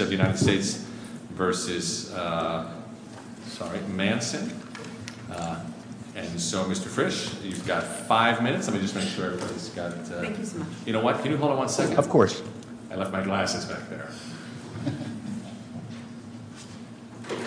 of the United States v. Manson, and so Mr. Frisch, you've got five minutes. Let me just make sure everybody's got, you know what, can you hold on one second? Of course. I left my glasses back there. Okay.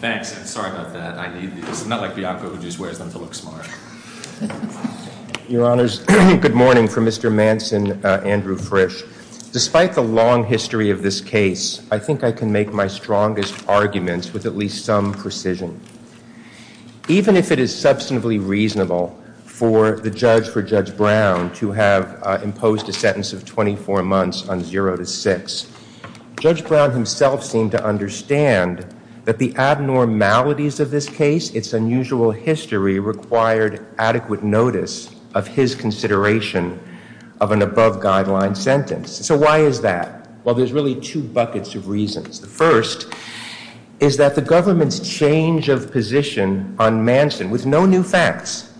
Thanks. I'm sorry about that. I need these. It's not like Bianca who just wears them to look smart. Your Honors, good morning from Mr. Manson, Andrew Frisch. Despite the long history of this case, I think I can make my strongest arguments with at least some precision. Even if it is substantively reasonable for the judge, for Judge Brown, to have imposed a sentence of 24 months on 0 to 6, Judge Brown himself seemed to understand that the abnormalities of this case, its unusual history, required adequate notice of his consideration of an above-guideline sentence. So why is that? Well, there's really two buckets of reasons. The first is that the government's change of position on Manson, with no new facts,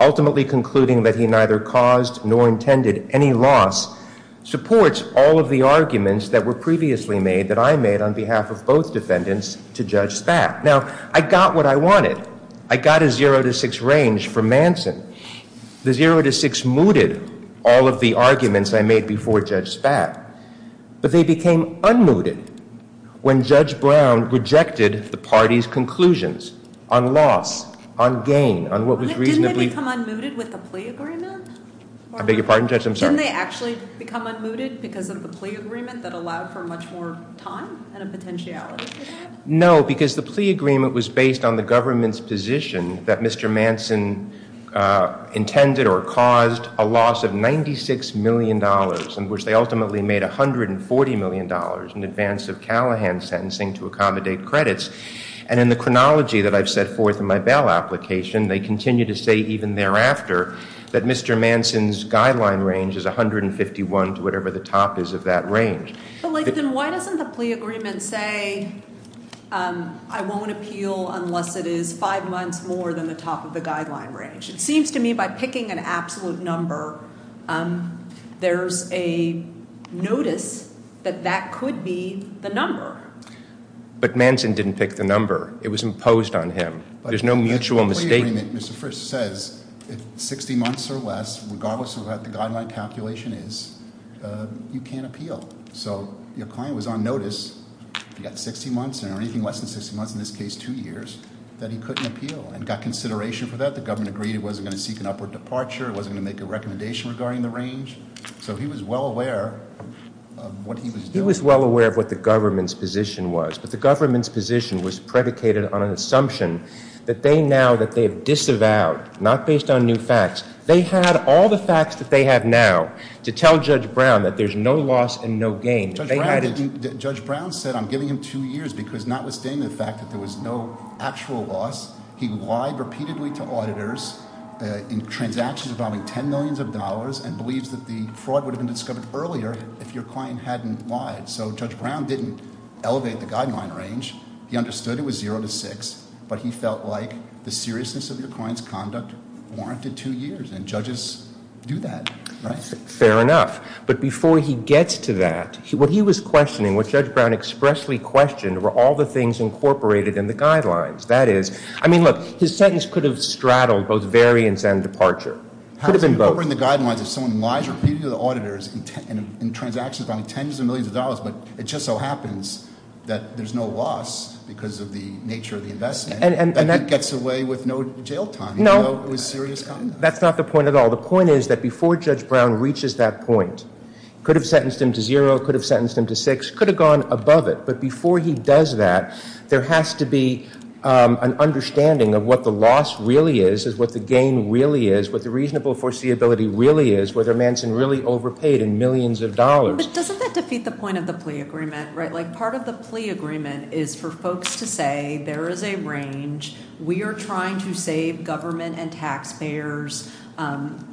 ultimately concluding that he neither caused nor intended any loss, supports all of the arguments that were previously made, that I made on behalf of both defendants, to Judge Spatt. Now, I got what I wanted. I got a 0 to 6 range for Manson. The 0 to 6 mooted all of the arguments I made before Judge Spatt. But they became unmooted when Judge Brown rejected the party's conclusions on loss, on gain, on what was reasonably- Didn't they become unmooted with the plea agreement? I beg your pardon, Judge? I'm sorry. Didn't they actually become unmooted because of the plea agreement that allowed for much more time and a potentiality for that? No, because the plea agreement was based on the government's position that Mr. Manson intended or caused a loss of $96 million in which they ultimately made $140 million in advance of Callahan's sentencing to accommodate credits. And in the chronology that I've set forth in my bail application, they continue to say even thereafter that Mr. Manson's guideline range is 151 to whatever the top is of that range. But, like, then why doesn't the plea agreement say, I won't appeal unless it is five months more than the top of the guideline range? It seems to me by picking an absolute number, there's a notice that that could be the number. But Manson didn't pick the number. It was imposed on him. There's no mutual mistake- But the plea agreement, Mr. Frist, says if 60 months or less, regardless of what the guideline calculation is, you can't appeal. So your client was on notice if he got 60 months or anything less than 60 months, in this case two years, that he couldn't appeal. And got consideration for that. The government agreed he wasn't going to seek an upward departure. It wasn't going to make a recommendation regarding the range. So he was well aware of what he was doing. He was well aware of what the government's position was. But the government's position was predicated on an assumption that they now, that they have disavowed, not based on new facts. They had all the facts that they have now to tell Judge Brown that there's no loss and no gain. Judge Brown said I'm giving him two years because notwithstanding the fact that there was no actual loss, he lied repeatedly to auditors in transactions involving ten millions of dollars and believes that the fraud would have been discovered earlier if your client hadn't lied. So Judge Brown didn't elevate the guideline range. He understood it was zero to six. But he felt like the seriousness of your client's conduct warranted two years. And judges do that, right? Fair enough. But before he gets to that, what he was questioning, what Judge Brown expressly questioned, were all the things incorporated in the guidelines. That is, I mean, look, his sentence could have straddled both variance and departure. Could have been both. How can you incorporate the guidelines if someone lies repeatedly to the auditors in transactions involving tens of millions of dollars, but it just so happens that there's no loss because of the nature of the investment. And that gets away with no jail time. No. It was serious conduct. That's not the point at all. The point is that before Judge Brown reaches that point, could have sentenced him to zero, could have sentenced him to six, could have gone above it. But before he does that, there has to be an understanding of what the loss really is, is what the gain really is, what the reasonable foreseeability really is, whether Manson really overpaid in millions of dollars. But doesn't that defeat the point of the plea agreement, right? Like part of the plea agreement is for folks to say there is a range. We are trying to save government and taxpayers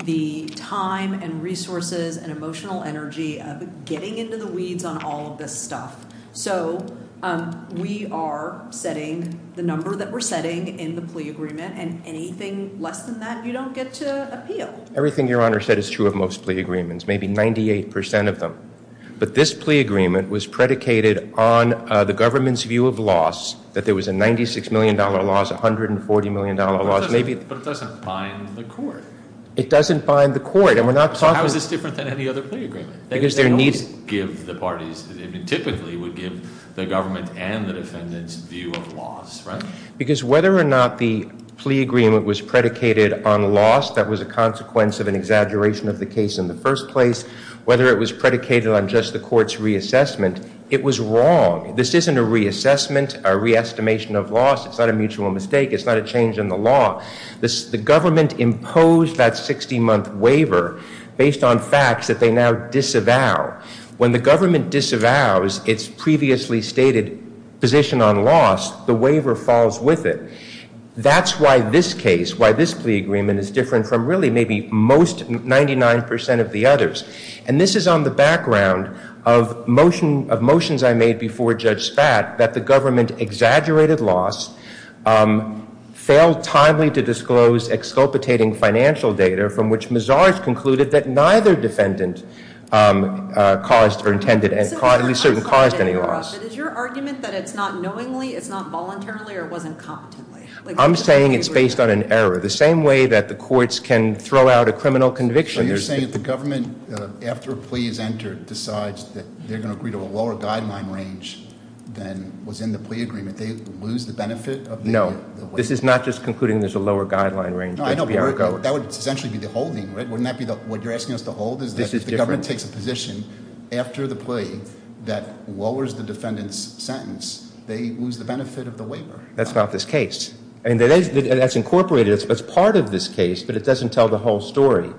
the time and resources and emotional energy of getting into the weeds on all of this stuff. So we are setting the number that we're setting in the plea agreement, and anything less than that you don't get to appeal. Everything Your Honor said is true of most plea agreements, maybe 98% of them. But this plea agreement was predicated on the government's view of loss, that there was a $96 million loss, $140 million loss. But it doesn't bind the court. It doesn't bind the court. So how is this different than any other plea agreement? They don't give the parties, typically would give the government and the defendants view of loss, right? Because whether or not the plea agreement was predicated on loss, that was a consequence of an exaggeration of the case in the first place, whether it was predicated on just the court's reassessment, it was wrong. This isn't a reassessment, a re-estimation of loss. It's not a mutual mistake. It's not a change in the law. The government imposed that 60-month waiver based on facts that they now disavow. When the government disavows its previously stated position on loss, the waiver falls with it. That's why this case, why this plea agreement is different from really maybe most 99% of the others. And this is on the background of motions I made before Judge Spat that the government exaggerated loss, failed timely to disclose exculpating financial data, from which Mazars concluded that neither defendant caused or intended and certainly caused any loss. Is your argument that it's not knowingly, it's not voluntarily, or it wasn't competently? I'm saying it's based on an error. The same way that the courts can throw out a criminal conviction. So you're saying that the government, after a plea is entered, decides that they're going to agree to a lower guideline range than was in the plea agreement. They lose the benefit of the waiver? No, this is not just concluding there's a lower guideline range. That would essentially be the holding, right? Wouldn't that be what you're asking us to hold? The government takes a position after the plea that lowers the defendant's sentence. They lose the benefit of the waiver. That's not this case. That's incorporated. It's part of this case, but it doesn't tell the whole story.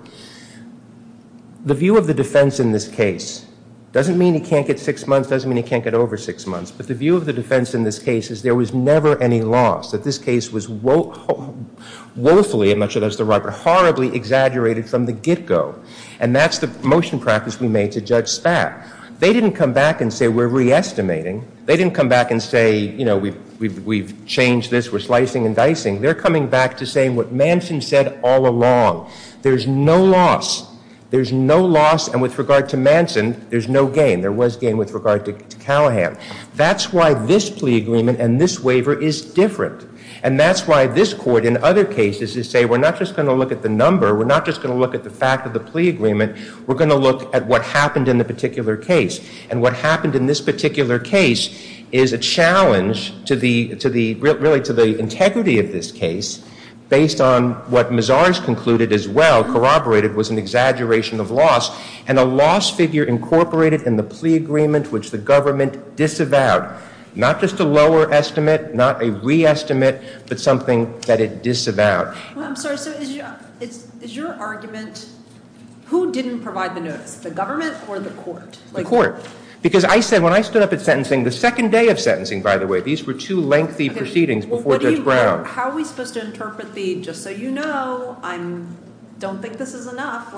The view of the defense in this case doesn't mean he can't get six months, doesn't mean he can't get over six months. But the view of the defense in this case is there was never any loss, that this case was woefully, I'm not sure that's the right word, horribly exaggerated from the get-go. And that's the motion practice we made to Judge Spat. They didn't come back and say we're re-estimating. They didn't come back and say, you know, we've changed this, we're slicing and dicing. They're coming back to saying what Manson said all along. There's no loss. There's no loss, and with regard to Manson, there's no gain. There was gain with regard to Callahan. That's why this plea agreement and this waiver is different. And that's why this court in other cases is saying we're not just going to look at the number, we're not just going to look at the fact of the plea agreement, we're going to look at what happened in the particular case. And what happened in this particular case is a challenge to the integrity of this case based on what Mazars concluded as well, corroborated was an exaggeration of loss, and a loss figure incorporated in the plea agreement which the government disavowed. Not just a lower estimate, not a re-estimate, but something that it disavowed. I'm sorry, so is your argument who didn't provide the notice, the government or the court? The court, because I said when I stood up at sentencing, the second day of sentencing, by the way, these were two lengthy proceedings before Judge Brown. How are we supposed to interpret the just so you know, I don't think this is enough.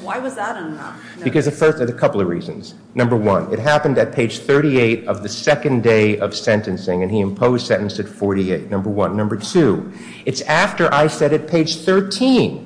Why was that enough? Because of a couple of reasons. Number one, it happened at page 38 of the second day of sentencing, and he imposed sentence at 48, number one. Number two, it's after I said at page 13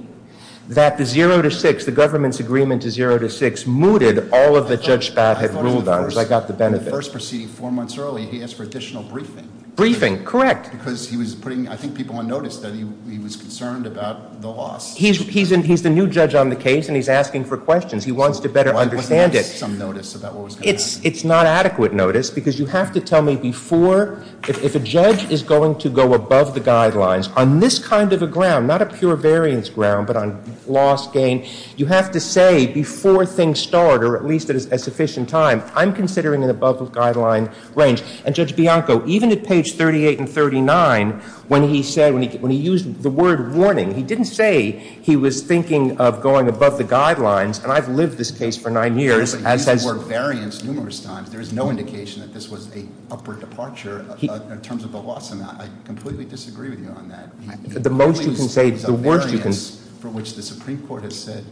that the 0 to 6, the government's agreement to 0 to 6, mooted all of the Judge Spaff had ruled on, because I got the benefit. The first proceeding, four months early, he asked for additional briefing. Briefing, correct. Because he was putting, I think, people on notice that he was concerned about the loss. He's the new judge on the case, and he's asking for questions. He wants to better understand it. Why wasn't there some notice about what was going to happen? It's not adequate notice, because you have to tell me before, if a judge is going to go above the guidelines on this kind of a ground, not a pure variance ground, but on loss, gain, you have to say before things start, or at least at a sufficient time, I'm considering an above-the-guideline range. And Judge Bianco, even at page 38 and 39, when he said, when he used the word warning, he didn't say he was thinking of going above the guidelines. And I've lived this case for nine years. He used the word variance numerous times. There is no indication that this was an upward departure in terms of the loss amount. I completely disagree with you on that. The most you can say, the worst you can— The only variance for which the Supreme Court has said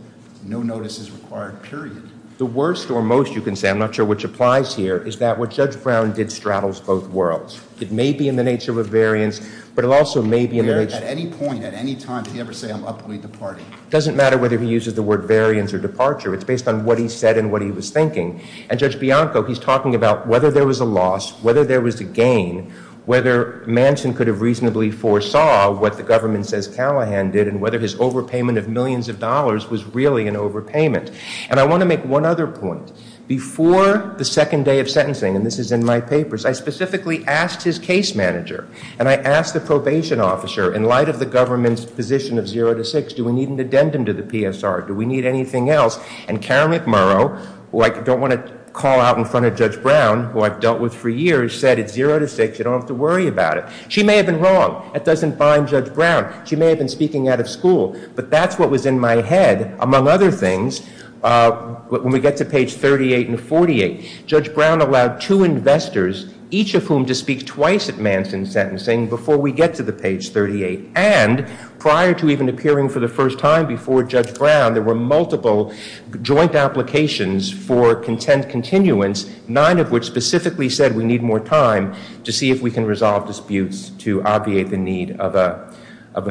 no notice is required, period. The worst or most you can say, I'm not sure which applies here, is that what Judge Brown did straddles both worlds. It may be in the nature of a variance, but it also may be in the nature— At any point, at any time, did he ever say, I'm upward departing? It doesn't matter whether he uses the word variance or departure. It's based on what he said and what he was thinking. And Judge Bianco, he's talking about whether there was a loss, whether there was a gain, whether Manson could have reasonably foresaw what the government says Callahan did and whether his overpayment of millions of dollars was really an overpayment. And I want to make one other point. Before the second day of sentencing, and this is in my papers, I specifically asked his case manager, and I asked the probation officer, in light of the government's position of zero to six, do we need an addendum to the PSR? Do we need anything else? And Karen McMurrow, who I don't want to call out in front of Judge Brown, who I've dealt with for years, said it's zero to six. You don't have to worry about it. She may have been wrong. That doesn't bind Judge Brown. She may have been speaking out of school, but that's what was in my head. Among other things, when we get to page 38 and 48, Judge Brown allowed two investors, each of whom to speak twice at Manson's sentencing before we get to the page 38. And prior to even appearing for the first time before Judge Brown, there were multiple joint applications for content continuance, nine of which specifically said we need more time to see if we can resolve disputes to obviate the need of a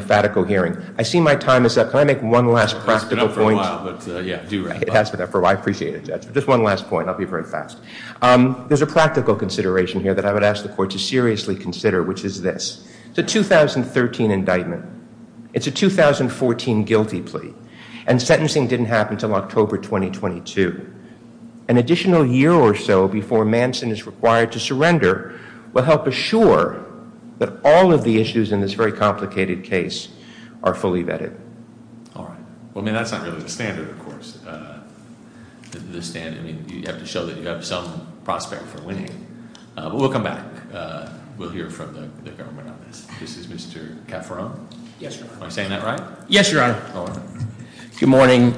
fatical hearing. I see my time is up. Can I make one last practical point? It's been up for a while, but yeah, do wrap up. It has been up for a while. I appreciate it, Judge. Just one last point. I'll be very fast. There's a practical consideration here that I would ask the court to seriously consider, which is this. It's a 2013 indictment. It's a 2014 guilty plea, and sentencing didn't happen until October 2022. An additional year or so before Manson is required to surrender will help assure that all of the issues in this very complicated case are fully vetted. All right. Well, I mean, that's not really the standard, of course. You have to show that you have some prospect for winning. We'll come back. We'll hear from the government on this. This is Mr. Cafferon. Yes, Your Honor. Am I saying that right? Yes, Your Honor. All right. Good morning.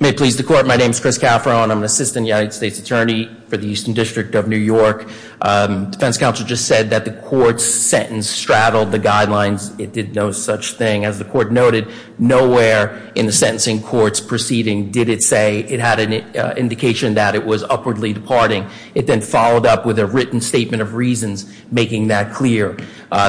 May it please the court, my name is Chris Cafferon. I'm an assistant United States attorney for the Eastern District of New York. Defense counsel just said that the court's sentence straddled the guidelines. It did no such thing. As the court noted, nowhere in the sentencing court's proceeding did it say it had an indication that it was upwardly departing. It then followed up with a written statement of reasons making that clear.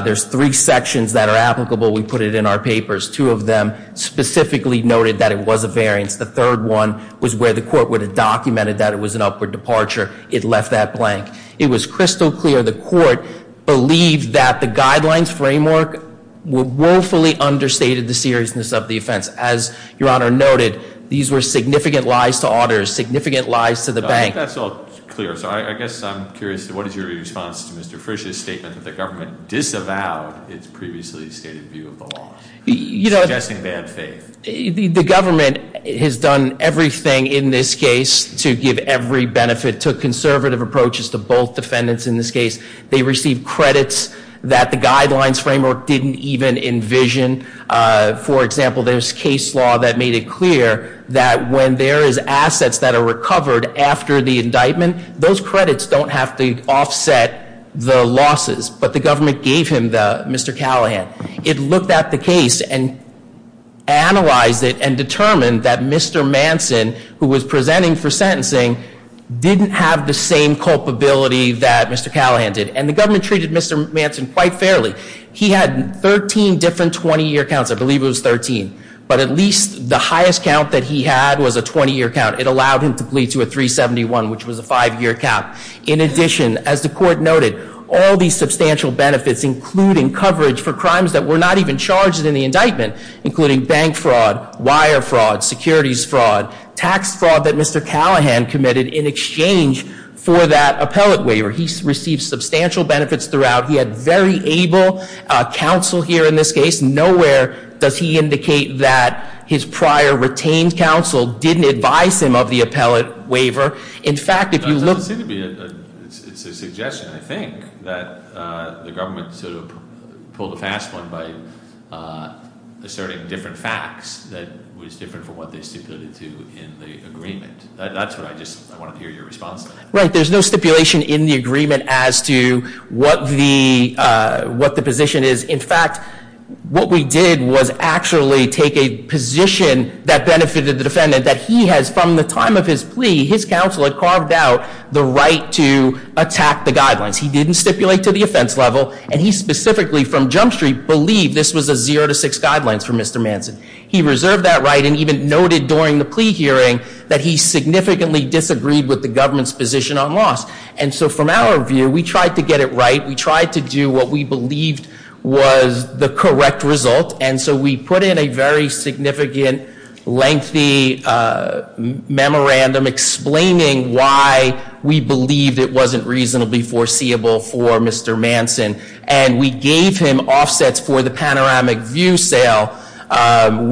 There's three sections that are applicable. We put it in our papers. Two of them specifically noted that it was a variance. The third one was where the court would have documented that it was an upward departure. It left that blank. It was crystal clear the court believed that the guidelines framework woefully understated the seriousness of the offense. As Your Honor noted, these were significant lies to auditors, significant lies to the bank. I think that's all clear. So I guess I'm curious, what is your response to Mr. Frisch's statement that the government disavowed its previously stated view of the law? Suggesting bad faith. The government has done everything in this case to give every benefit, took conservative approaches to both defendants in this case. They received credits that the guidelines framework didn't even envision. For example, there's case law that made it clear that when there is assets that are recovered after the indictment, those credits don't have to offset the losses. But the government gave him the, Mr. Callahan. It looked at the case and analyzed it and determined that Mr. Manson, who was presenting for sentencing, didn't have the same culpability that Mr. Callahan did. And the government treated Mr. Manson quite fairly. He had 13 different 20-year counts. I believe it was 13. But at least the highest count that he had was a 20-year count. It allowed him to plead to a 371, which was a five-year count. In addition, as the court noted, all these substantial benefits, including coverage for crimes that were not even charged in the indictment, including bank fraud, wire fraud, securities fraud, tax fraud that Mr. Callahan committed in exchange for that appellate waiver. He received substantial benefits throughout. He had very able counsel here in this case. Nowhere does he indicate that his prior retained counsel didn't advise him of the appellate waiver. In fact, if you look- It doesn't seem to be. It's a suggestion, I think, that the government sort of pulled a fast one by asserting different facts that was different from what they stipulated to in the agreement. That's what I just want to hear your response to. Right. There's no stipulation in the agreement as to what the position is. In fact, what we did was actually take a position that benefited the defendant that he has, from the time of his plea, his counsel had carved out the right to attack the guidelines. He didn't stipulate to the offense level. And he specifically, from Jump Street, believed this was a zero to six guidelines for Mr. Manson. He reserved that right and even noted during the plea hearing that he significantly disagreed with the government's position on loss. And so from our view, we tried to get it right. We tried to do what we believed was the correct result. And so we put in a very significant, lengthy memorandum explaining why we believed it wasn't reasonably foreseeable for Mr. Manson. And we gave him offsets for the panoramic view sale,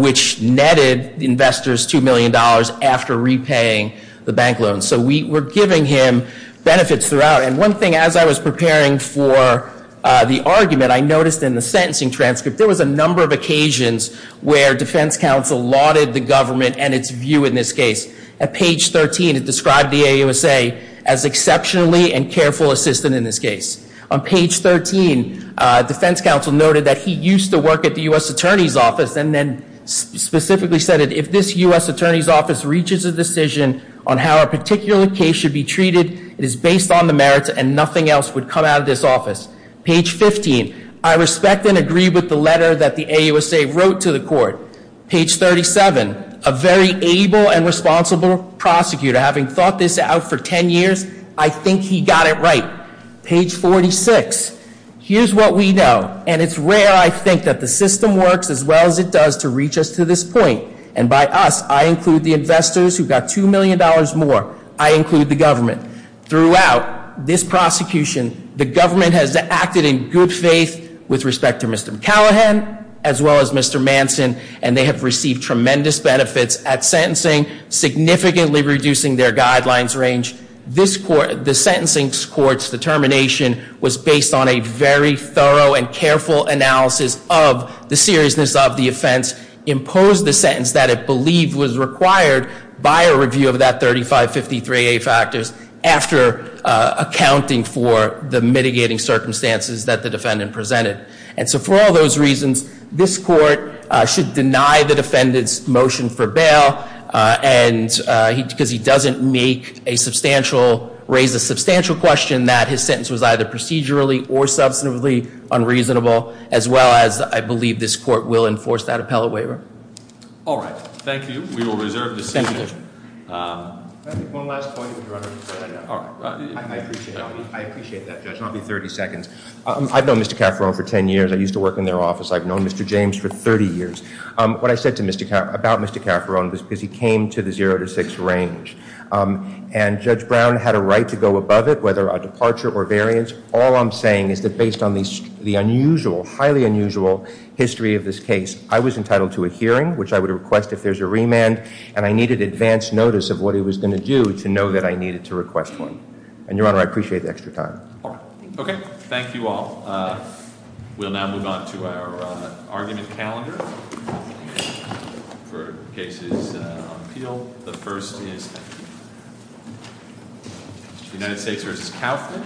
which netted investors $2 million after repaying the bank loan. So we were giving him benefits throughout. And one thing, as I was preparing for the argument, I noticed in the sentencing transcript, there was a number of occasions where defense counsel lauded the government and its view in this case. At page 13, it described the AUSA as exceptionally and careful assistant in this case. On page 13, defense counsel noted that he used to work at the U.S. Attorney's Office, and then specifically said if this U.S. Attorney's Office reaches a decision on how a particular case should be treated, it is based on the merits and nothing else would come out of this office. Page 15, I respect and agree with the letter that the AUSA wrote to the court. Page 37, a very able and responsible prosecutor having thought this out for 10 years, I think he got it right. Page 46, here's what we know. And it's rare, I think, that the system works as well as it does to reach us to this point. And by us, I include the investors who got $2 million more. I include the government. Throughout this prosecution, the government has acted in good faith with respect to Mr. McCallaghan as well as Mr. Manson. And they have received tremendous benefits at sentencing, significantly reducing their guidelines range. The sentencing court's determination was based on a very thorough and careful analysis of the seriousness of the offense, imposed the sentence that it believed was required by a review of that 3553A factors after accounting for the mitigating circumstances that the defendant presented. And so for all those reasons, this court should deny the defendant's motion for bail because he doesn't raise a substantial question that his sentence was either procedurally or substantively unreasonable, as well as I believe this court will enforce that appellate waiver. All right. Thank you. We will reserve the seat. One last point. I appreciate that, Judge. I'll be 30 seconds. I've known Mr. Cafferone for 10 years. I used to work in their office. I've known Mr. James for 30 years. What I said about Mr. Cafferone was because he came to the zero to six range. And Judge Brown had a right to go above it, whether a departure or variance. All I'm saying is that based on the unusual, highly unusual history of this case, I was entitled to a hearing, which I would request if there's a remand, and I needed advance notice of what he was going to do to know that I needed to request one. And, Your Honor, I appreciate the extra time. All right. Okay. Thank you all. We'll now move on to our argument calendar for cases on appeal. The first is United States v. Kaufman.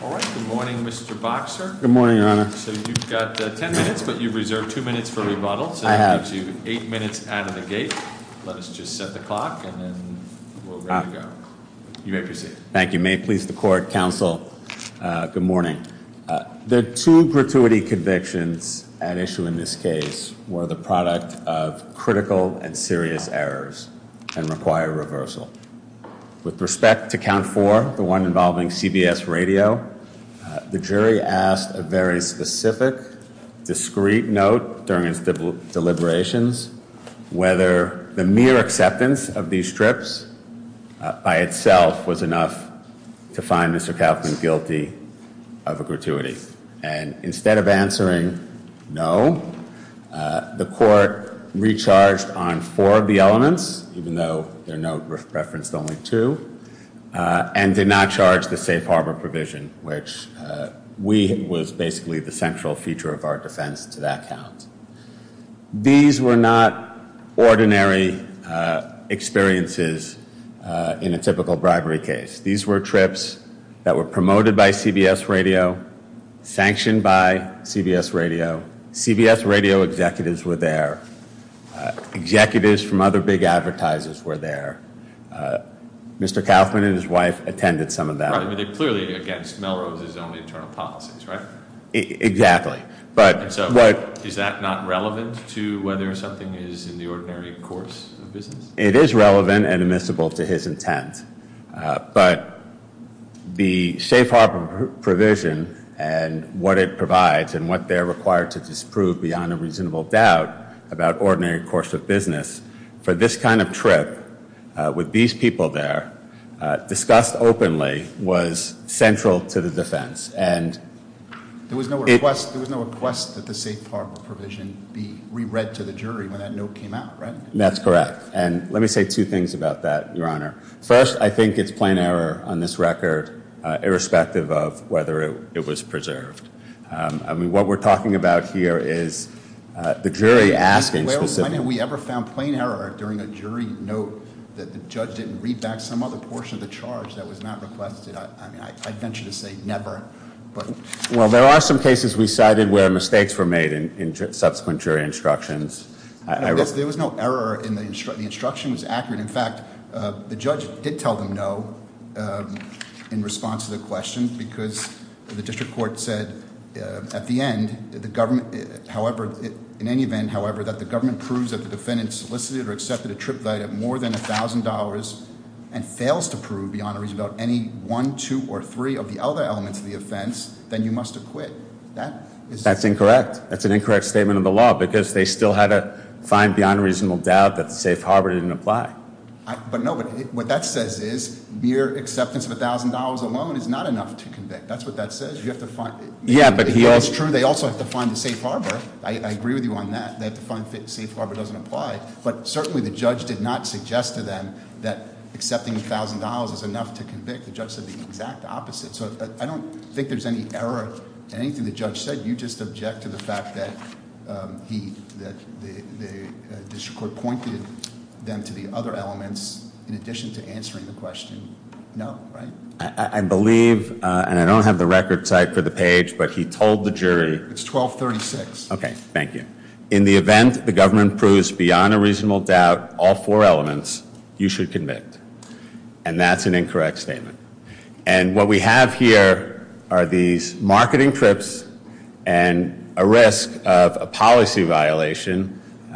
All right. Good morning, Mr. Boxer. Good morning, Your Honor. So you've got ten minutes, but you've reserved two minutes for rebuttal. I have. So that gives you eight minutes out of the gate. Let us just set the clock, and then we're ready to go. You may proceed. Thank you. May it please the court, counsel, good morning. The two gratuity convictions at issue in this case were the product of critical and serious errors and require reversal. With respect to count four, the one involving CBS radio, the jury asked a very specific, discreet note during its deliberations whether the mere acceptance of these strips by itself was enough to find Mr. Kaufman guilty of a gratuity. And instead of answering no, the court recharged on four of the elements, even though their note referenced only two, and did not charge the safe harbor provision, which we was basically the central feature of our defense to that count. These were not ordinary experiences in a typical bribery case. These were trips that were promoted by CBS radio, sanctioned by CBS radio. CBS radio executives were there. Executives from other big advertisers were there. Mr. Kaufman and his wife attended some of that. Right, but they're clearly against Melrose's own internal policies, right? Exactly. And so is that not relevant to whether something is in the ordinary course of business? It is relevant and admissible to his intent. But the safe harbor provision and what it provides and what they're required to disprove beyond a reasonable doubt about ordinary course of business, for this kind of trip with these people there, discussed openly, was central to the defense. And there was no request that the safe harbor provision be re-read to the jury when that note came out, right? That's correct. And let me say two things about that, Your Honor. First, I think it's plain error on this record, irrespective of whether it was preserved. I mean, what we're talking about here is the jury asking specifically. When have we ever found plain error during a jury note that the judge didn't read back some other portion of the charge that was not requested? I mean, I'd venture to say never. Well, there are some cases we cited where mistakes were made in subsequent jury instructions. There was no error in the instruction. The instruction was accurate. In fact, the judge did tell them no in response to the question because the district court said at the end, in any event, however, that the government proves that the defendant solicited or accepted a trip value of more than $1,000 and fails to prove beyond a reasonable doubt any one, two, or three of the other elements of the offense, then you must acquit. That's incorrect. That's an incorrect statement of the law because they still had to find beyond a reasonable doubt that the safe harbor didn't apply. But no, what that says is mere acceptance of $1,000 alone is not enough to convict. That's what that says. You have to find. Yeah, but he also. It's true. They also have to find the safe harbor. I agree with you on that. They have to find safe harbor doesn't apply. But certainly the judge did not suggest to them that accepting $1,000 is enough to convict. The judge said the exact opposite. So I don't think there's any error in anything the judge said. You just object to the fact that the district court pointed them to the other elements in addition to answering the question. No, right? I believe, and I don't have the record type for the page, but he told the jury. It's 1236. Okay, thank you. In the event the government proves beyond a reasonable doubt all four elements, you should convict. And that's an incorrect statement. And what we have here are these marketing trips and a risk of a policy violation.